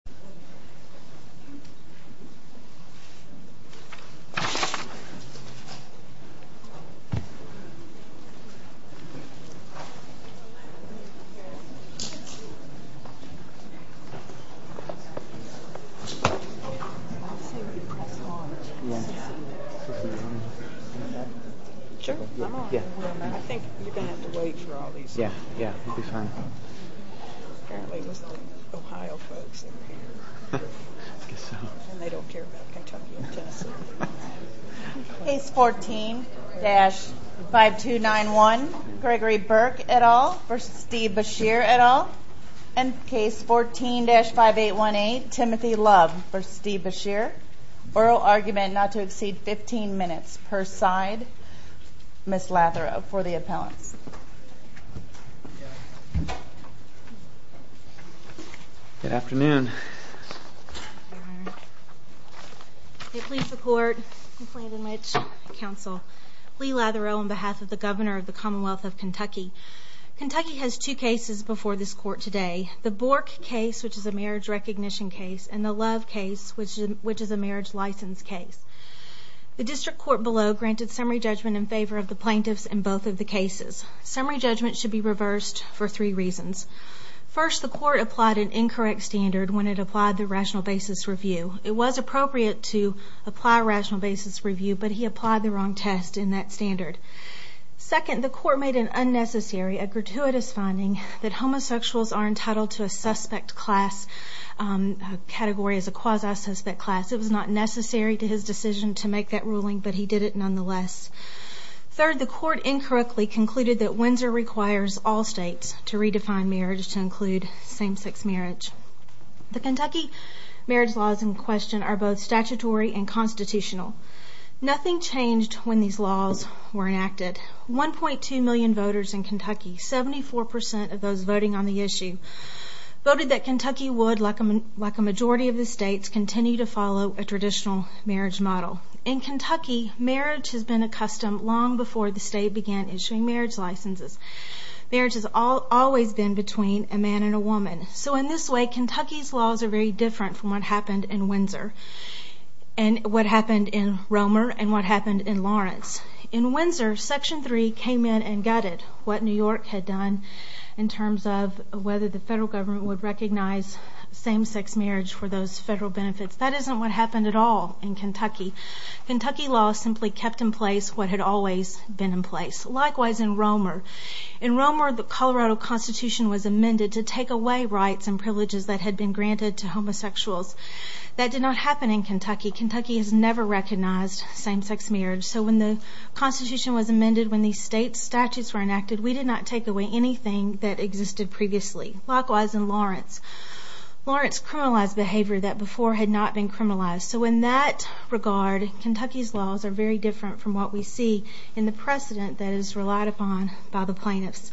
Atlantic pained と思います Do I have to say what you're pressing on? Sure. I think you're going to have to wait until… I guess so. And they don't care about Kentucky or Tennessee. Case 14-5291, Gregory Burke et al. v. Steve Beshear et al. And case 14-5818, Timothy Love v. Steve Beshear. Oral argument not to exceed 15 minutes per side. Ms. Latherow for the appellants. Good afternoon. Good afternoon, Your Honor. I pledge the court and plaintiff's counsel, Lee Latherow on behalf of the Governor of the Commonwealth of Kentucky. Kentucky has two cases before this court today. The Bork case, which is a marriage recognition case, and the Love case, which is a marriage license case. The district court below granted summary judgment in favor of the plaintiffs in both of the cases. Summary judgment should be reversed for three reasons. First, the court applied an incorrect standard when it applied the rational basis review. It was appropriate to apply a rational basis review, but he applied the wrong test in that standard. Second, the court made it unnecessary, a gratuitous finding, that homosexuals are entitled to a suspect class category as a quasi-suspect class. It was not necessary to his decision to make that ruling, but he did it nonetheless. Third, the court incorrectly concluded that Windsor requires all states to redefine marriage to include same-sex marriage. The Kentucky marriage laws in question are both statutory and constitutional. Nothing changed when these laws were enacted. 1.2 million voters in Kentucky, 74% of those voting on the issue, voted that Kentucky would, like a majority of the states, continue to follow a traditional marriage model. In Kentucky, marriage has been a custom long before the state began issuing marriage licenses. Marriage has always been between a man and a woman. So in this way, Kentucky's laws are very different from what happened in Windsor, and what happened in Romer, and what happened in Lawrence. In Windsor, Section 3 came in and gutted what New York had done in terms of whether the federal government would recognize same-sex marriage for those federal benefits. That isn't what happened at all in Kentucky. Kentucky laws simply kept in place what had always been in place. Likewise in Romer. In Romer, the Colorado Constitution was amended to take away rights and privileges that had been granted to homosexuals. That did not happen in Kentucky. Kentucky has never recognized same-sex marriage. So when the Constitution was amended, when these state statutes were enacted, we did not take away anything that existed previously. Likewise in Lawrence. Lawrence criminalized behavior that before had not been criminalized. So in that regard, Kentucky's laws are very different from what we see in the precedent that is relied upon by the plaintiffs.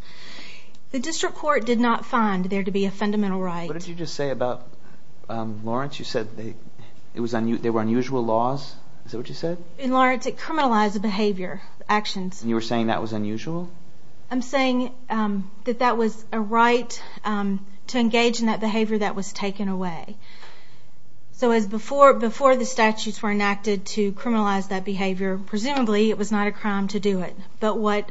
The district court did not find there to be a fundamental right. What did you just say about Lawrence? You said there were unusual laws. Is that what you said? In Lawrence, it criminalized behavior, actions. And you were saying that was unusual? I'm saying that that was a right to engage in that behavior that was taken away. So before the statutes were enacted to criminalize that behavior, presumably it was not a crime to do it. But what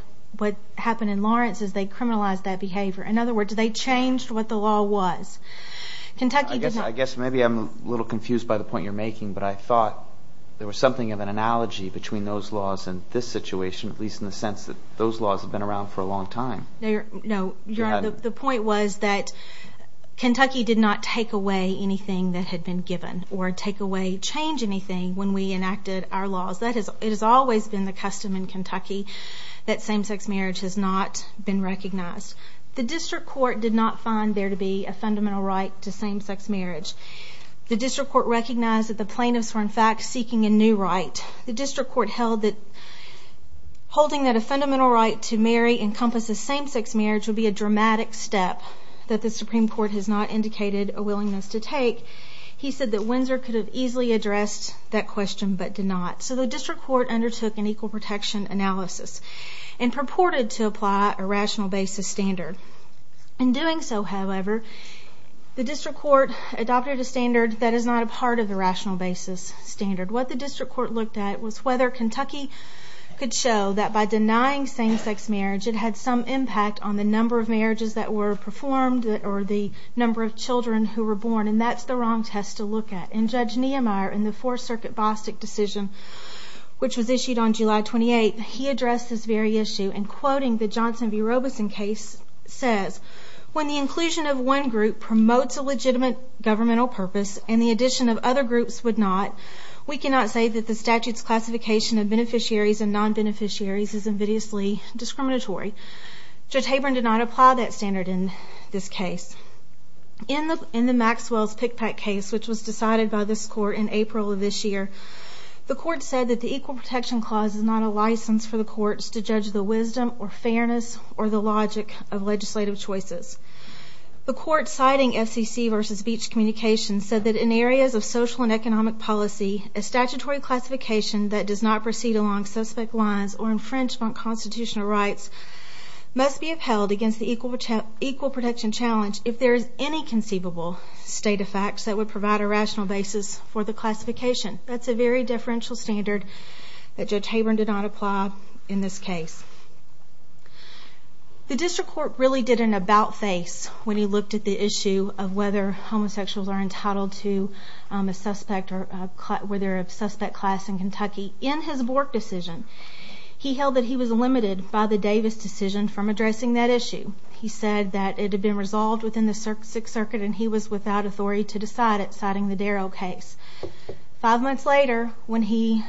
happened in Lawrence is they criminalized that behavior. In other words, they changed what the law was. I guess maybe I'm a little confused by the point you're making, but I thought there was something of an analogy between those laws and this situation, at least in the sense that those laws have been around for a long time. No, you're right. The point was that Kentucky did not take away anything that had been given or take away, change anything when we enacted our laws. It has always been the custom in Kentucky that same-sex marriage has not been recognized. The district court did not find there to be a fundamental right to same-sex marriage. The district court recognized that the plaintiffs were in fact seeking a new right. The district court held that holding that a fundamental right to marry encompasses same-sex marriage would be a dramatic step that the Supreme Court has not indicated a willingness to take. He said that Windsor could have easily addressed that question but did not. So the district court undertook an equal protection analysis and purported to apply a rational basis standard. In doing so, however, the district court adopted a standard that is not a part of the rational basis standard. What the district court looked at was whether Kentucky could show that by denying same-sex marriage it had some impact on the number of marriages that were performed or the number of children who were born, and that's the wrong test to look at. And Judge Niemeyer in the Fourth Circuit Bostick decision, which was issued on July 28th, he addressed this very issue in quoting the Johnson v. Robeson case, says, when the inclusion of one group promotes a legitimate governmental purpose and the addition of other groups would not, we cannot say that the statute's classification of beneficiaries and non-beneficiaries is invidiously discriminatory. Judge Haber did not apply that standard in this case. In the Maxwell's pickpack case, which was decided by this court in April of this year, the court said that the equal protection clause is not a license for the courts to judge the wisdom or fairness or the logic of legislative choices. The court, citing FCC v. Beach Communications, said that in areas of social and economic policy, a statutory classification that does not proceed along suspect lines or infringe on constitutional rights must be upheld against the equal protection challenge if there is any conceivable state of facts that would provide a rational basis for the classification. That's a very differential standard that Judge Haber did not apply in this case. The district court really did an about-face when he looked at the issue of whether homosexuals are entitled to a suspect or were there a suspect class in Kentucky. In his Bork decision, he held that he was limited by the Davis decision from addressing that issue. He said that it had been resolved within the Sixth Circuit and he was without authority to decide it, citing the Darrell case. Five months later, when he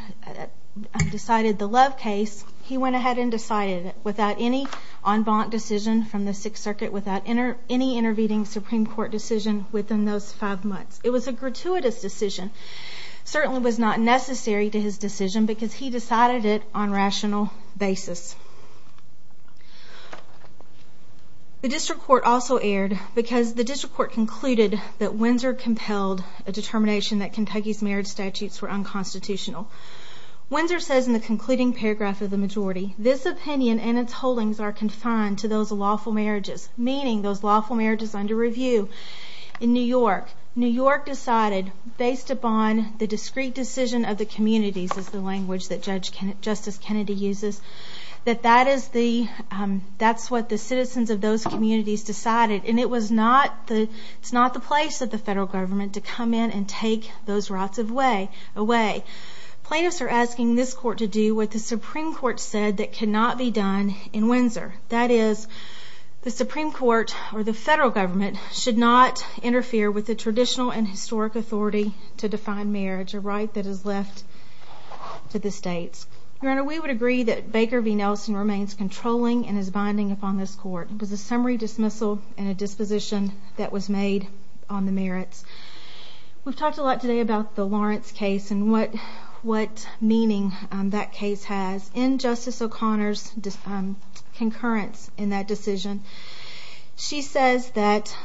decided the Love case, he went ahead and decided it without any en banc decision from the Sixth Circuit, without any intervening Supreme Court decision within those five months. It was a gratuitous decision. It certainly was not necessary to his decision because he decided it on a rational basis. The district court also erred because the district court concluded that Windsor compelled a determination that Kentucky's marriage statutes were unconstitutional. Windsor says in the concluding paragraph of the majority, this opinion and its holdings are confined to those lawful marriages, meaning those lawful marriages under review in New York. New York decided, based upon the discrete decision of the communities, is the language that Justice Kennedy uses, that that is what the citizens of those communities decided. And it's not the place of the federal government to come in and take those rights away. Plaintiffs are asking this court to do what the Supreme Court said that cannot be done in Windsor. That is, the Supreme Court, or the federal government, should not interfere with the traditional and historic authority to define marriage, a right that is left to the states. Your Honor, we would agree that Baker v. Nelson remains controlling and is binding upon this court. It was a summary dismissal and a disposition that was made on the merits. We've talked a lot today about the Lawrence case and what meaning that case has in Justice O'Connor's concurrence in that decision. She says that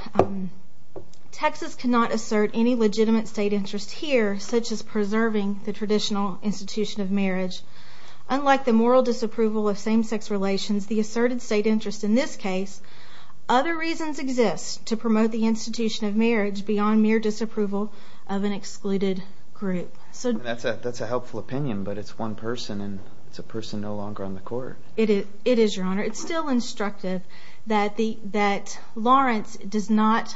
Texas cannot assert any legitimate state interest here, such as preserving the traditional institution of marriage. Unlike the moral disapproval of same-sex relations, the asserted state interest in this case, other reasons exist to promote the institution of marriage beyond mere disapproval of an excluded group. That's a helpful opinion, but it's one person, and it's a person no longer on the court. It is, Your Honor. It's still instructive that Lawrence does not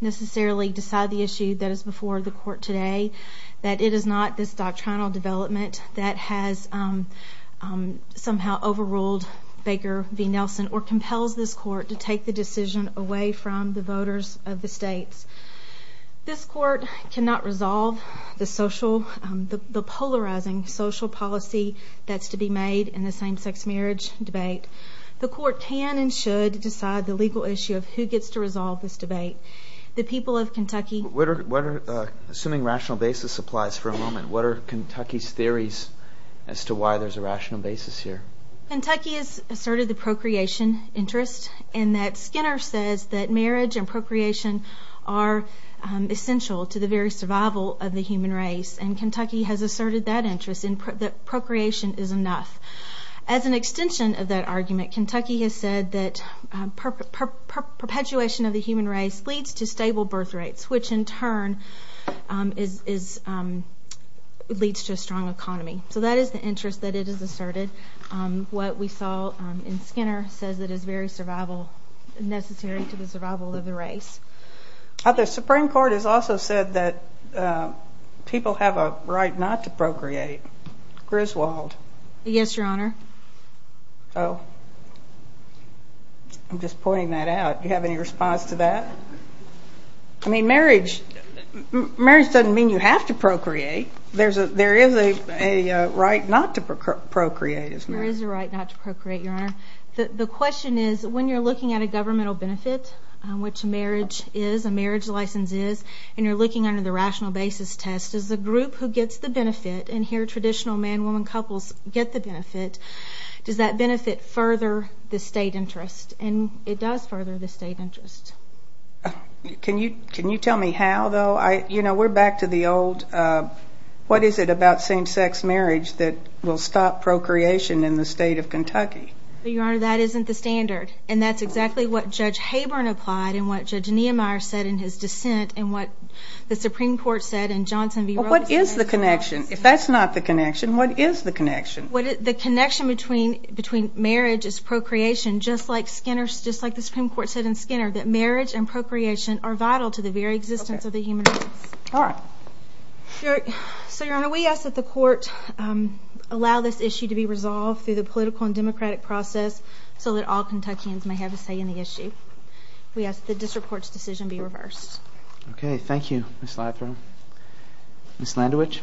necessarily decide the issue that is before the court today, that it is not this doctrinal development that has somehow overruled Baker v. Nelson or compels this court to take the decision away from the voters of the states. This court cannot resolve the polarizing social policy that's to be made in the same-sex marriage debate. The court can and should decide the legal issue of who gets to resolve this debate. The people of Kentucky Assuming rational basis applies for a moment, what are Kentucky's theories as to why there's a rational basis here? Kentucky has asserted the procreation interest in that Skinner says that marriage and procreation are essential to the very survival of the human race, and Kentucky has asserted that interest in that procreation is enough. As an extension of that argument, Kentucky has said that perpetuation of the human race leads to stable birth rates, which in turn leads to a strong economy. So that is the interest that it has asserted. What we saw in Skinner says it is very necessary to the survival of the race. The Supreme Court has also said that people have a right not to procreate. Griswold. Yes, Your Honor. Oh, I'm just pointing that out. Do you have any response to that? I mean, marriage doesn't mean you have to procreate. There is a right not to procreate. There is a right not to procreate, Your Honor. The question is, when you're looking at a governmental benefit, which marriage is, a marriage license is, and you're looking under the rational basis test, does the group who gets the benefit, and here traditional man-woman couples get the benefit, does that benefit further the state interest? And it does further the state interest. Can you tell me how, though? You know, we're back to the old, what is it about same-sex marriage that will stop procreation in the state of Kentucky? Well, Your Honor, that isn't the standard. And that's exactly what Judge Haber applied and what Judge Niemeyer said in his dissent and what the Supreme Court said in Johnson v. Roe. What is the connection? If that's not the connection, what is the connection? The connection between marriage is procreation, just like the Supreme Court said in Skinner, that marriage and procreation are vital to the very existence of the human race. All right. So, Your Honor, we ask that the Court allow this issue to be resolved through the political and democratic process so that all Kentuckians may have a say in the issue. We ask that the district court's decision be reversed. Okay. Thank you, Ms. Latherow. Ms. Landewich.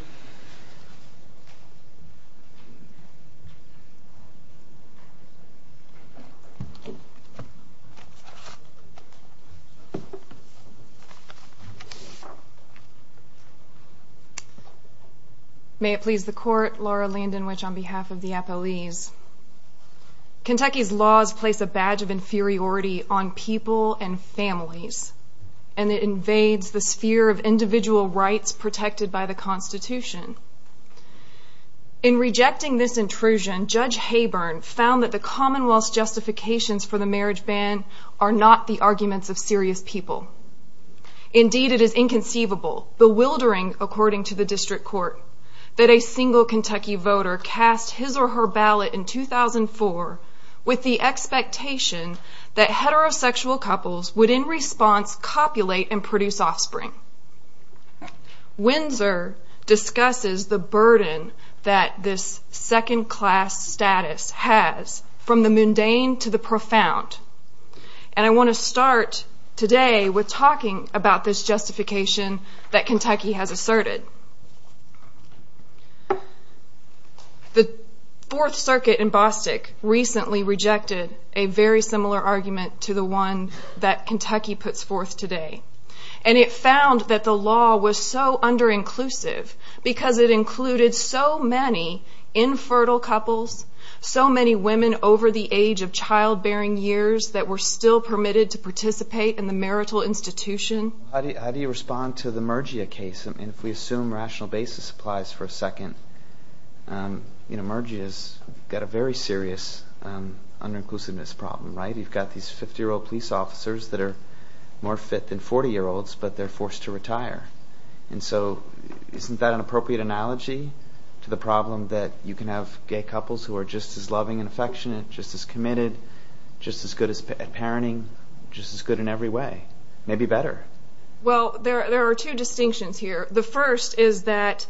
May it please the Court, Laura Landewich on behalf of the appellees. Kentucky's laws place a badge of inferiority on people and families, and it invades the sphere of individual rights protected by the Constitution. In rejecting this intrusion, Judge Haber found that the Commonwealth's justifications for the marriage ban are not the arguments of serious people. Indeed, it is inconceivable, bewildering according to the district court, that a single Kentucky voter cast his or her ballot in 2004 with the expectation that heterosexual couples would in response copulate and produce offspring. Windsor discusses the burden that this second-class status has from the mundane to the profound. And I want to start today with talking about this justification that Kentucky has asserted. The Fourth Circuit in Bostick recently rejected a very similar argument to the one that Kentucky puts forth today. And it found that the law was so under-inclusive because it included so many infertile couples, so many women over the age of childbearing years that were still permitted to participate in the marital institution. How do you respond to the Mergia case? I mean, if we assume rational basis applies for a second, you know, Mergia's got a very serious under-inclusiveness problem, right? You've got these 50-year-old police officers that are more fit than 40-year-olds, but they're forced to retire. And so isn't that an appropriate analogy to the problem that you can have gay couples who are just as loving and affectionate, just as committed, just as good at parenting, just as good in every way, maybe better? Well, there are two distinctions here. The first is that,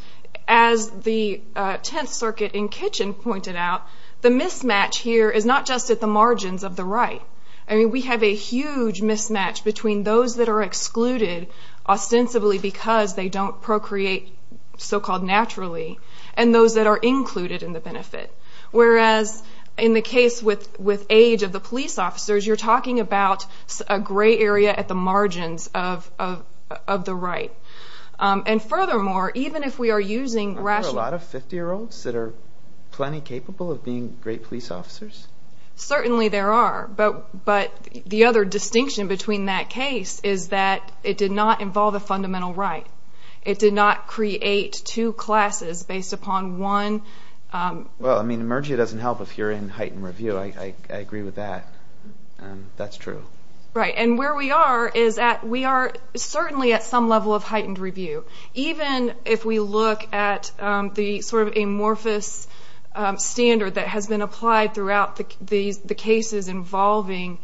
as the Tenth Circuit in Kitchen pointed out, the mismatch here is not just at the margins of the right. I mean, we have a huge mismatch between those that are excluded ostensibly because they don't procreate so-called naturally and those that are included in the benefit. Whereas in the case with age of the police officers, you're talking about a gray area at the margins of the right. And furthermore, even if we are using rational... Are there a lot of 50-year-olds that are plenty capable of being great police officers? Certainly there are. But the other distinction between that case is that it did not involve a fundamental right. It did not create two classes based upon one... Well, I mean, emergia doesn't help if you're in heightened review. I agree with that. That's true. Right, and where we are is that we are certainly at some level of heightened review, even if we look at the sort of amorphous standard that has been applied throughout the cases involving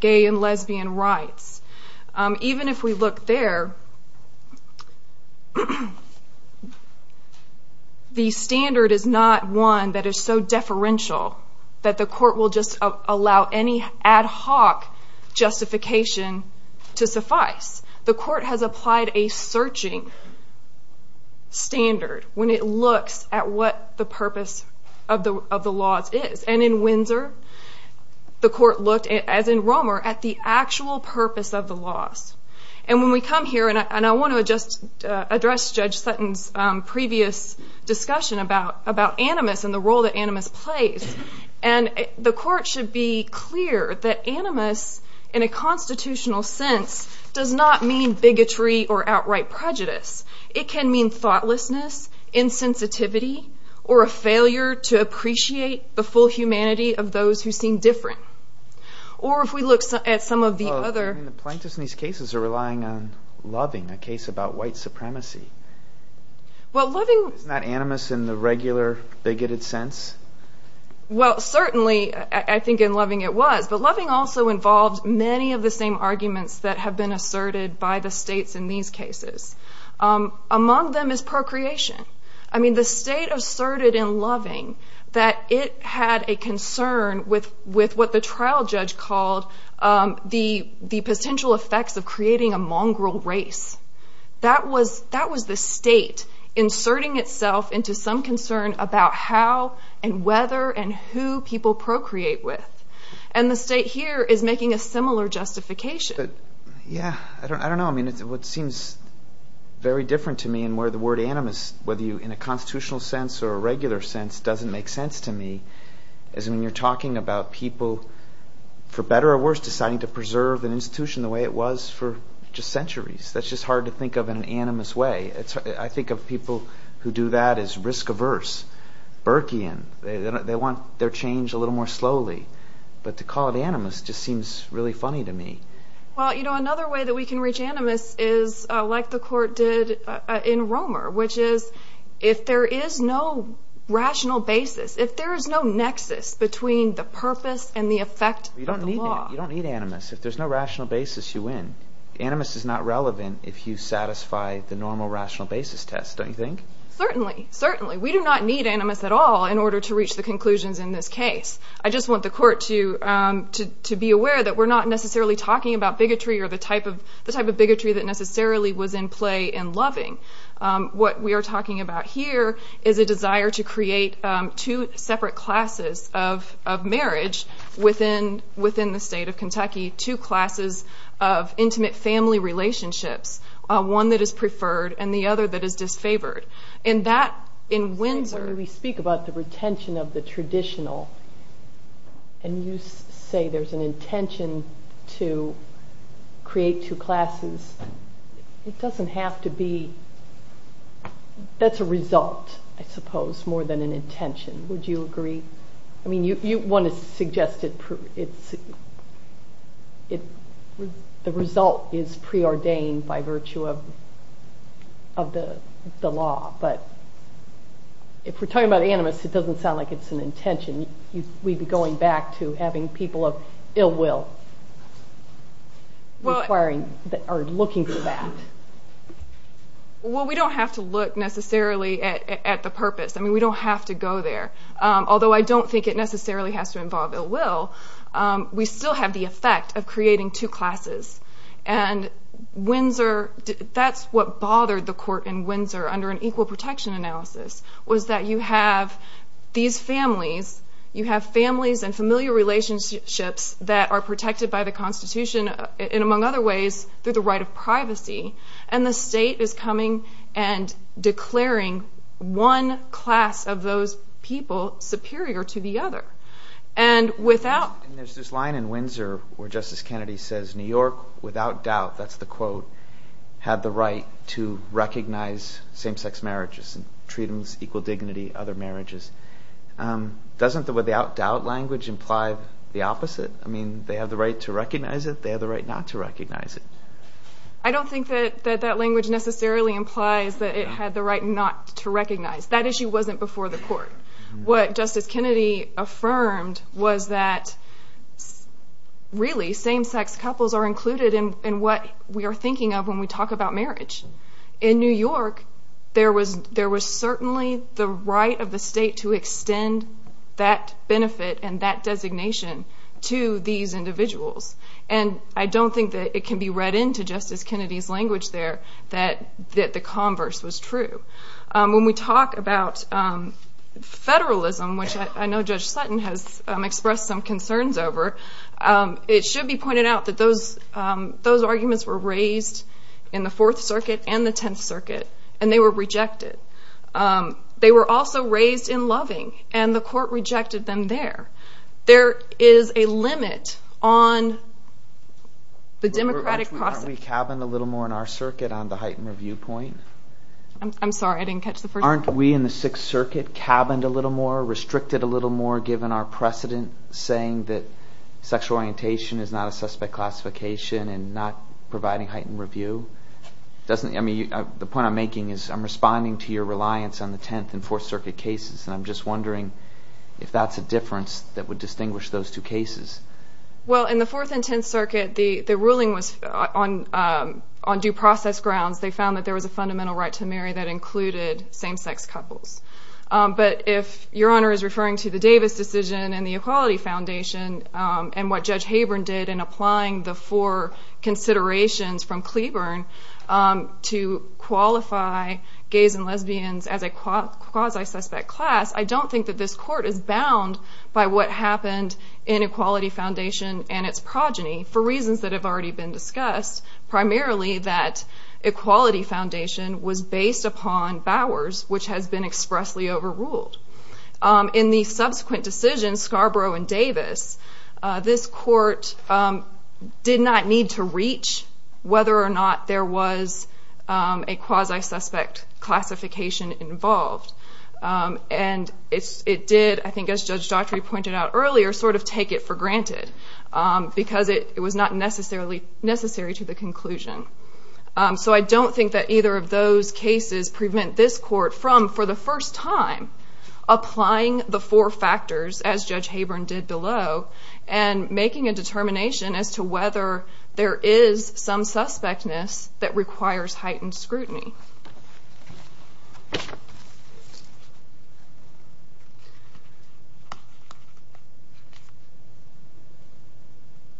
gay and lesbian rights. Even if we look there, the standard is not one that is so deferential that the court will just allow any ad hoc justification to suffice. The court has applied a searching standard when it looks at what the purpose of the laws is. And in Windsor, the court looked, as in Romer, at the actual purpose of the laws. And when we come here... And I want to just address Judge Sutton's previous discussion about animus and the role that animus plays. And the court should be clear that animus, in a constitutional sense, does not mean bigotry or outright prejudice. It can mean thoughtlessness, insensitivity, or a failure to appreciate the full humanity of those who seem different. Or if we look at some of the other... The plaintiffs in these cases are relying on loving, a case about white supremacy. Well, loving... Isn't that animus in the regular bigoted sense? Well, certainly, I think in loving it was. But loving also involves many of the same arguments that have been asserted by the states in these cases. Among them is procreation. I mean, the state asserted in loving that it had a concern with what the trial judge called the potential effects of creating a mongrel race. That was the state inserting itself into some concern about how and whether and who people procreate with. And the state here is making a similar justification. Yeah, I don't know. I mean, what seems very different to me in where the word animus, whether in a constitutional sense or a regular sense, doesn't make sense to me is when you're talking about people, for better or worse, deciding to preserve an institution the way it was for just centuries. That's just hard to think of in an animus way. I think of people who do that as risk-averse, Burkean. They want their change a little more slowly. But to call it animus just seems really funny to me. Well, you know, another way that we can reach animus is like the court did in Romer, which is if there is no rational basis, if there is no nexus between the purpose and the effect of the law. You don't need animus. If there's no rational basis, you win. Animus is not relevant if you satisfy the normal rational basis test, don't you think? Certainly, certainly. We do not need animus at all in order to reach the conclusions in this case. I just want the court to be aware that we're not necessarily talking about bigotry or the type of bigotry that necessarily was in play in Loving. What we are talking about here is a desire to create two separate classes of marriage within the state of Kentucky, two classes of intimate family relationships, one that is preferred and the other that is disfavored. When we speak about the retention of the traditional and you say there's an intention to create two classes, it doesn't have to be, that's a result, I suppose, more than an intention. Would you agree? You want to suggest the result is preordained by virtue of the law, but if we're talking about animus, it doesn't sound like it's an intention. We'd be going back to having people of ill will looking for that. We don't have to look necessarily at the purpose. We don't have to go there. Although I don't think it necessarily has to involve ill will, we still have the effect of creating two classes. And that's what bothered the court in Windsor under an equal protection analysis was that you have these families, you have families and familiar relationships that are protected by the Constitution and, among other ways, through the right of privacy, and the state is coming and declaring one class of those people superior to the other. And there's this line in Windsor where Justice Kennedy says, New York, without doubt, that's the quote, had the right to recognize same-sex marriages and treat them with equal dignity, other marriages. Doesn't the without doubt language imply the opposite? I mean, they have the right to recognize it, they have the right not to recognize it. I don't think that that language necessarily implies that it had the right not to recognize. That issue wasn't before the court. What Justice Kennedy affirmed was that really, same-sex couples are included in what we are thinking of when we talk about marriage. In New York, there was certainly the right of the state to extend that benefit and that designation to these individuals. And I don't think that it can be read into Justice Kennedy's language there that the converse was true. When we talk about federalism, which I know Judge Sutton has expressed some concerns over, it should be pointed out that those arguments were raised in the Fourth Circuit and the Tenth Circuit, and they were rejected. They were also raised in Loving, and the court rejected them there. There is a limit on the democratic process. Aren't we cabined a little more in our circuit on the heightened review point? I'm sorry, I didn't catch the first part. Aren't we in the Sixth Circuit cabined a little more, restricted a little more, given our precedent saying that sexual orientation is not a suspect classification and not providing heightened review? The point I'm making is I'm responding to your reliance on the Tenth and Fourth Circuit cases, and I'm just wondering if that's a difference that would distinguish those two cases. Well, in the Fourth and Tenth Circuit, the ruling was on due process grounds. They found that there was a fundamental right to marry that included same-sex couples. But if Your Honor is referring to the Davis decision and the Equality Foundation and what Judge Habern did in applying the four considerations from Cleburne to qualify gays and lesbians as a quasi-suspect class, I don't think that this court is bound by what happened in Equality Foundation and its progeny for reasons that have already been discussed, primarily that Equality Foundation was based upon Bowers, which has been expressly overruled. This court did not need to reach whether or not there was a quasi-suspect classification involved. And it did, I think as Judge Daughtry pointed out earlier, sort of take it for granted because it was not necessary to the conclusion. So I don't think that either of those cases prevent this court from, for the first time, applying the four factors as Judge Habern did below and making a determination as to whether there is some suspectness that requires heightened scrutiny.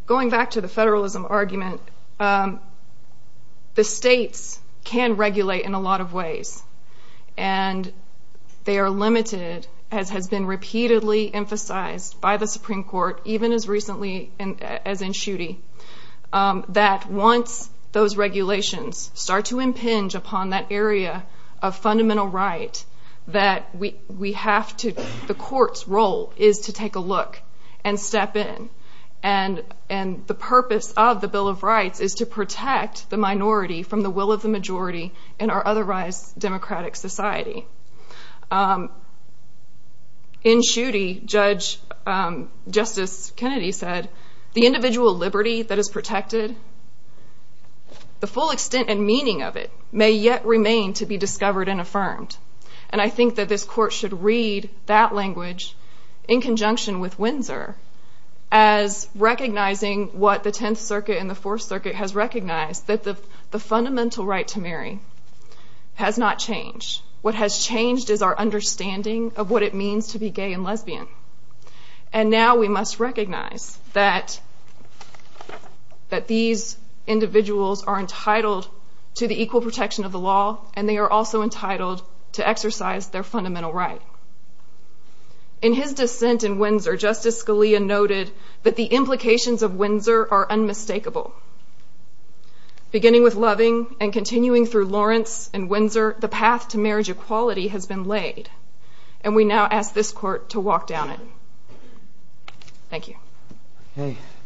Going back to the federalism argument, the states can regulate in a lot of ways. And they are limited, as has been repeatedly emphasized by the Supreme Court, even as recently as in Schuette, that once those regulations start to impinge upon that area of fundamental right, that we have to, the court's role is to take a look and step in. And the purpose of the Bill of Rights is to protect the minority from the will of the majority in our otherwise democratic society. In Schuette, Judge Justice Kennedy said, the individual liberty that is protected, the full extent and meaning of it, may yet remain to be discovered and affirmed. And I think that this court should read that language in conjunction with Windsor as recognizing what the Tenth Circuit and the Fourth Circuit has recognized, that the fundamental right to marry has not changed. What has changed is our understanding of what it means to be gay and lesbian. And now we must recognize that these individuals are entitled to the equal protection of the law, and they are also entitled to exercise their fundamental right. In his dissent in Windsor, Justice Scalia noted that the implications of Windsor are unmistakable. Beginning with Loving and continuing through Lawrence and Windsor, the path to marriage equality has been laid, and we now ask this court to walk down it. Thank you.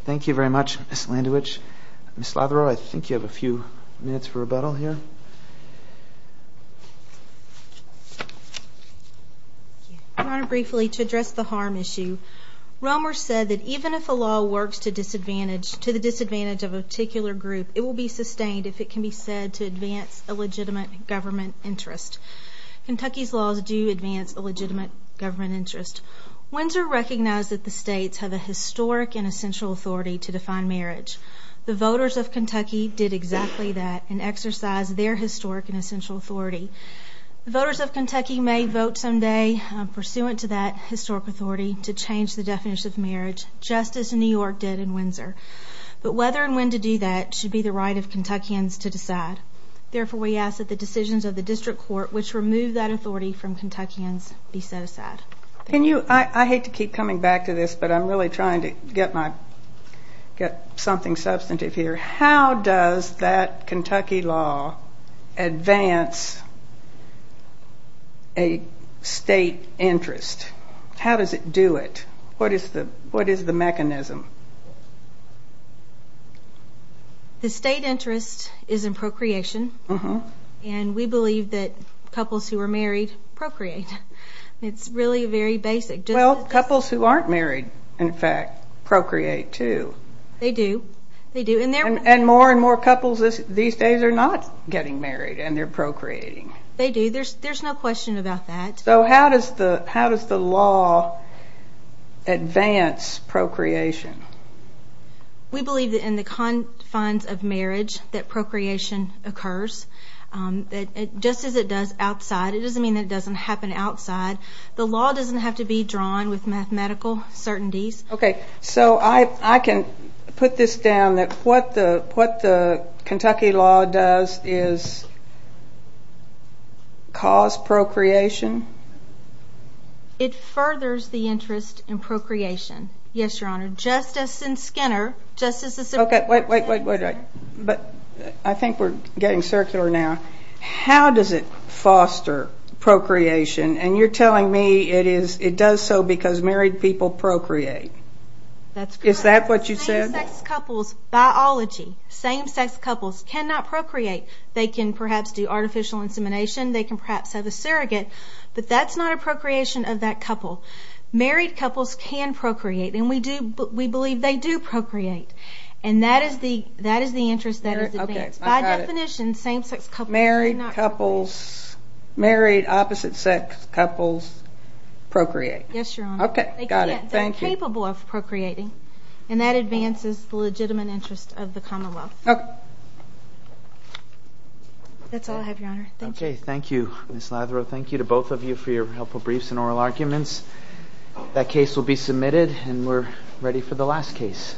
Thank you very much, Ms. Landewich. Ms. Lotherow, I think you have a few minutes for rebuttal here. Your Honor, briefly, to address the harm issue, Romer said that even if a law works to the disadvantage of a particular group, it will be sustained if it can be said to advance a legitimate government interest. Kentucky's laws do advance a legitimate government interest. Windsor recognized that the states have a historic and essential authority to define marriage. The voters of Kentucky did exactly that and exercised their historic and essential authority. The voters of Kentucky may vote someday, pursuant to that historic authority, to change the definition of marriage, just as New York did in Windsor. But whether and when to do that should be the right of Kentuckians to decide. Therefore, we ask that the decisions of the district court, which remove that authority from Kentuckians, be set aside. I hate to keep coming back to this, but I'm really trying to get something substantive here. How does that Kentucky law advance a state interest? How does it do it? What is the mechanism? The state interest is in procreation, and we believe that couples who are married procreate. It's really very basic. Well, couples who aren't married, in fact, procreate, too. They do. And more and more couples these days are not getting married, and they're procreating. They do. There's no question about that. So how does the law advance procreation? We believe that in the confines of marriage that procreation occurs. Just as it does outside. It doesn't mean that it doesn't happen outside. The law doesn't have to be drawn with mathematical certainties. Okay. So I can put this down that what the Kentucky law does is cause procreation? It furthers the interest in procreation. Yes, Your Honor. Just as in Skinner. Okay. Wait, wait, wait. But I think we're getting circular now. How does it foster procreation? And you're telling me it does so because married people procreate. That's correct. Is that what you said? Same-sex couples, biology, same-sex couples cannot procreate. They can perhaps do artificial insemination. They can perhaps have a surrogate. But that's not a procreation of that couple. Married couples can procreate, and we believe they do procreate. And that is the interest that is advanced. By definition, same-sex couples cannot procreate. Married opposite-sex couples procreate. Yes, Your Honor. Okay. Got it. Thank you. They're incapable of procreating, and that advances the legitimate interest of the Commonwealth. Okay. That's all I have, Your Honor. Thank you. Okay. Thank you, Ms. Latherow. Thank you to both of you for your helpful briefs and oral arguments. That case will be submitted, and we're ready for the last case.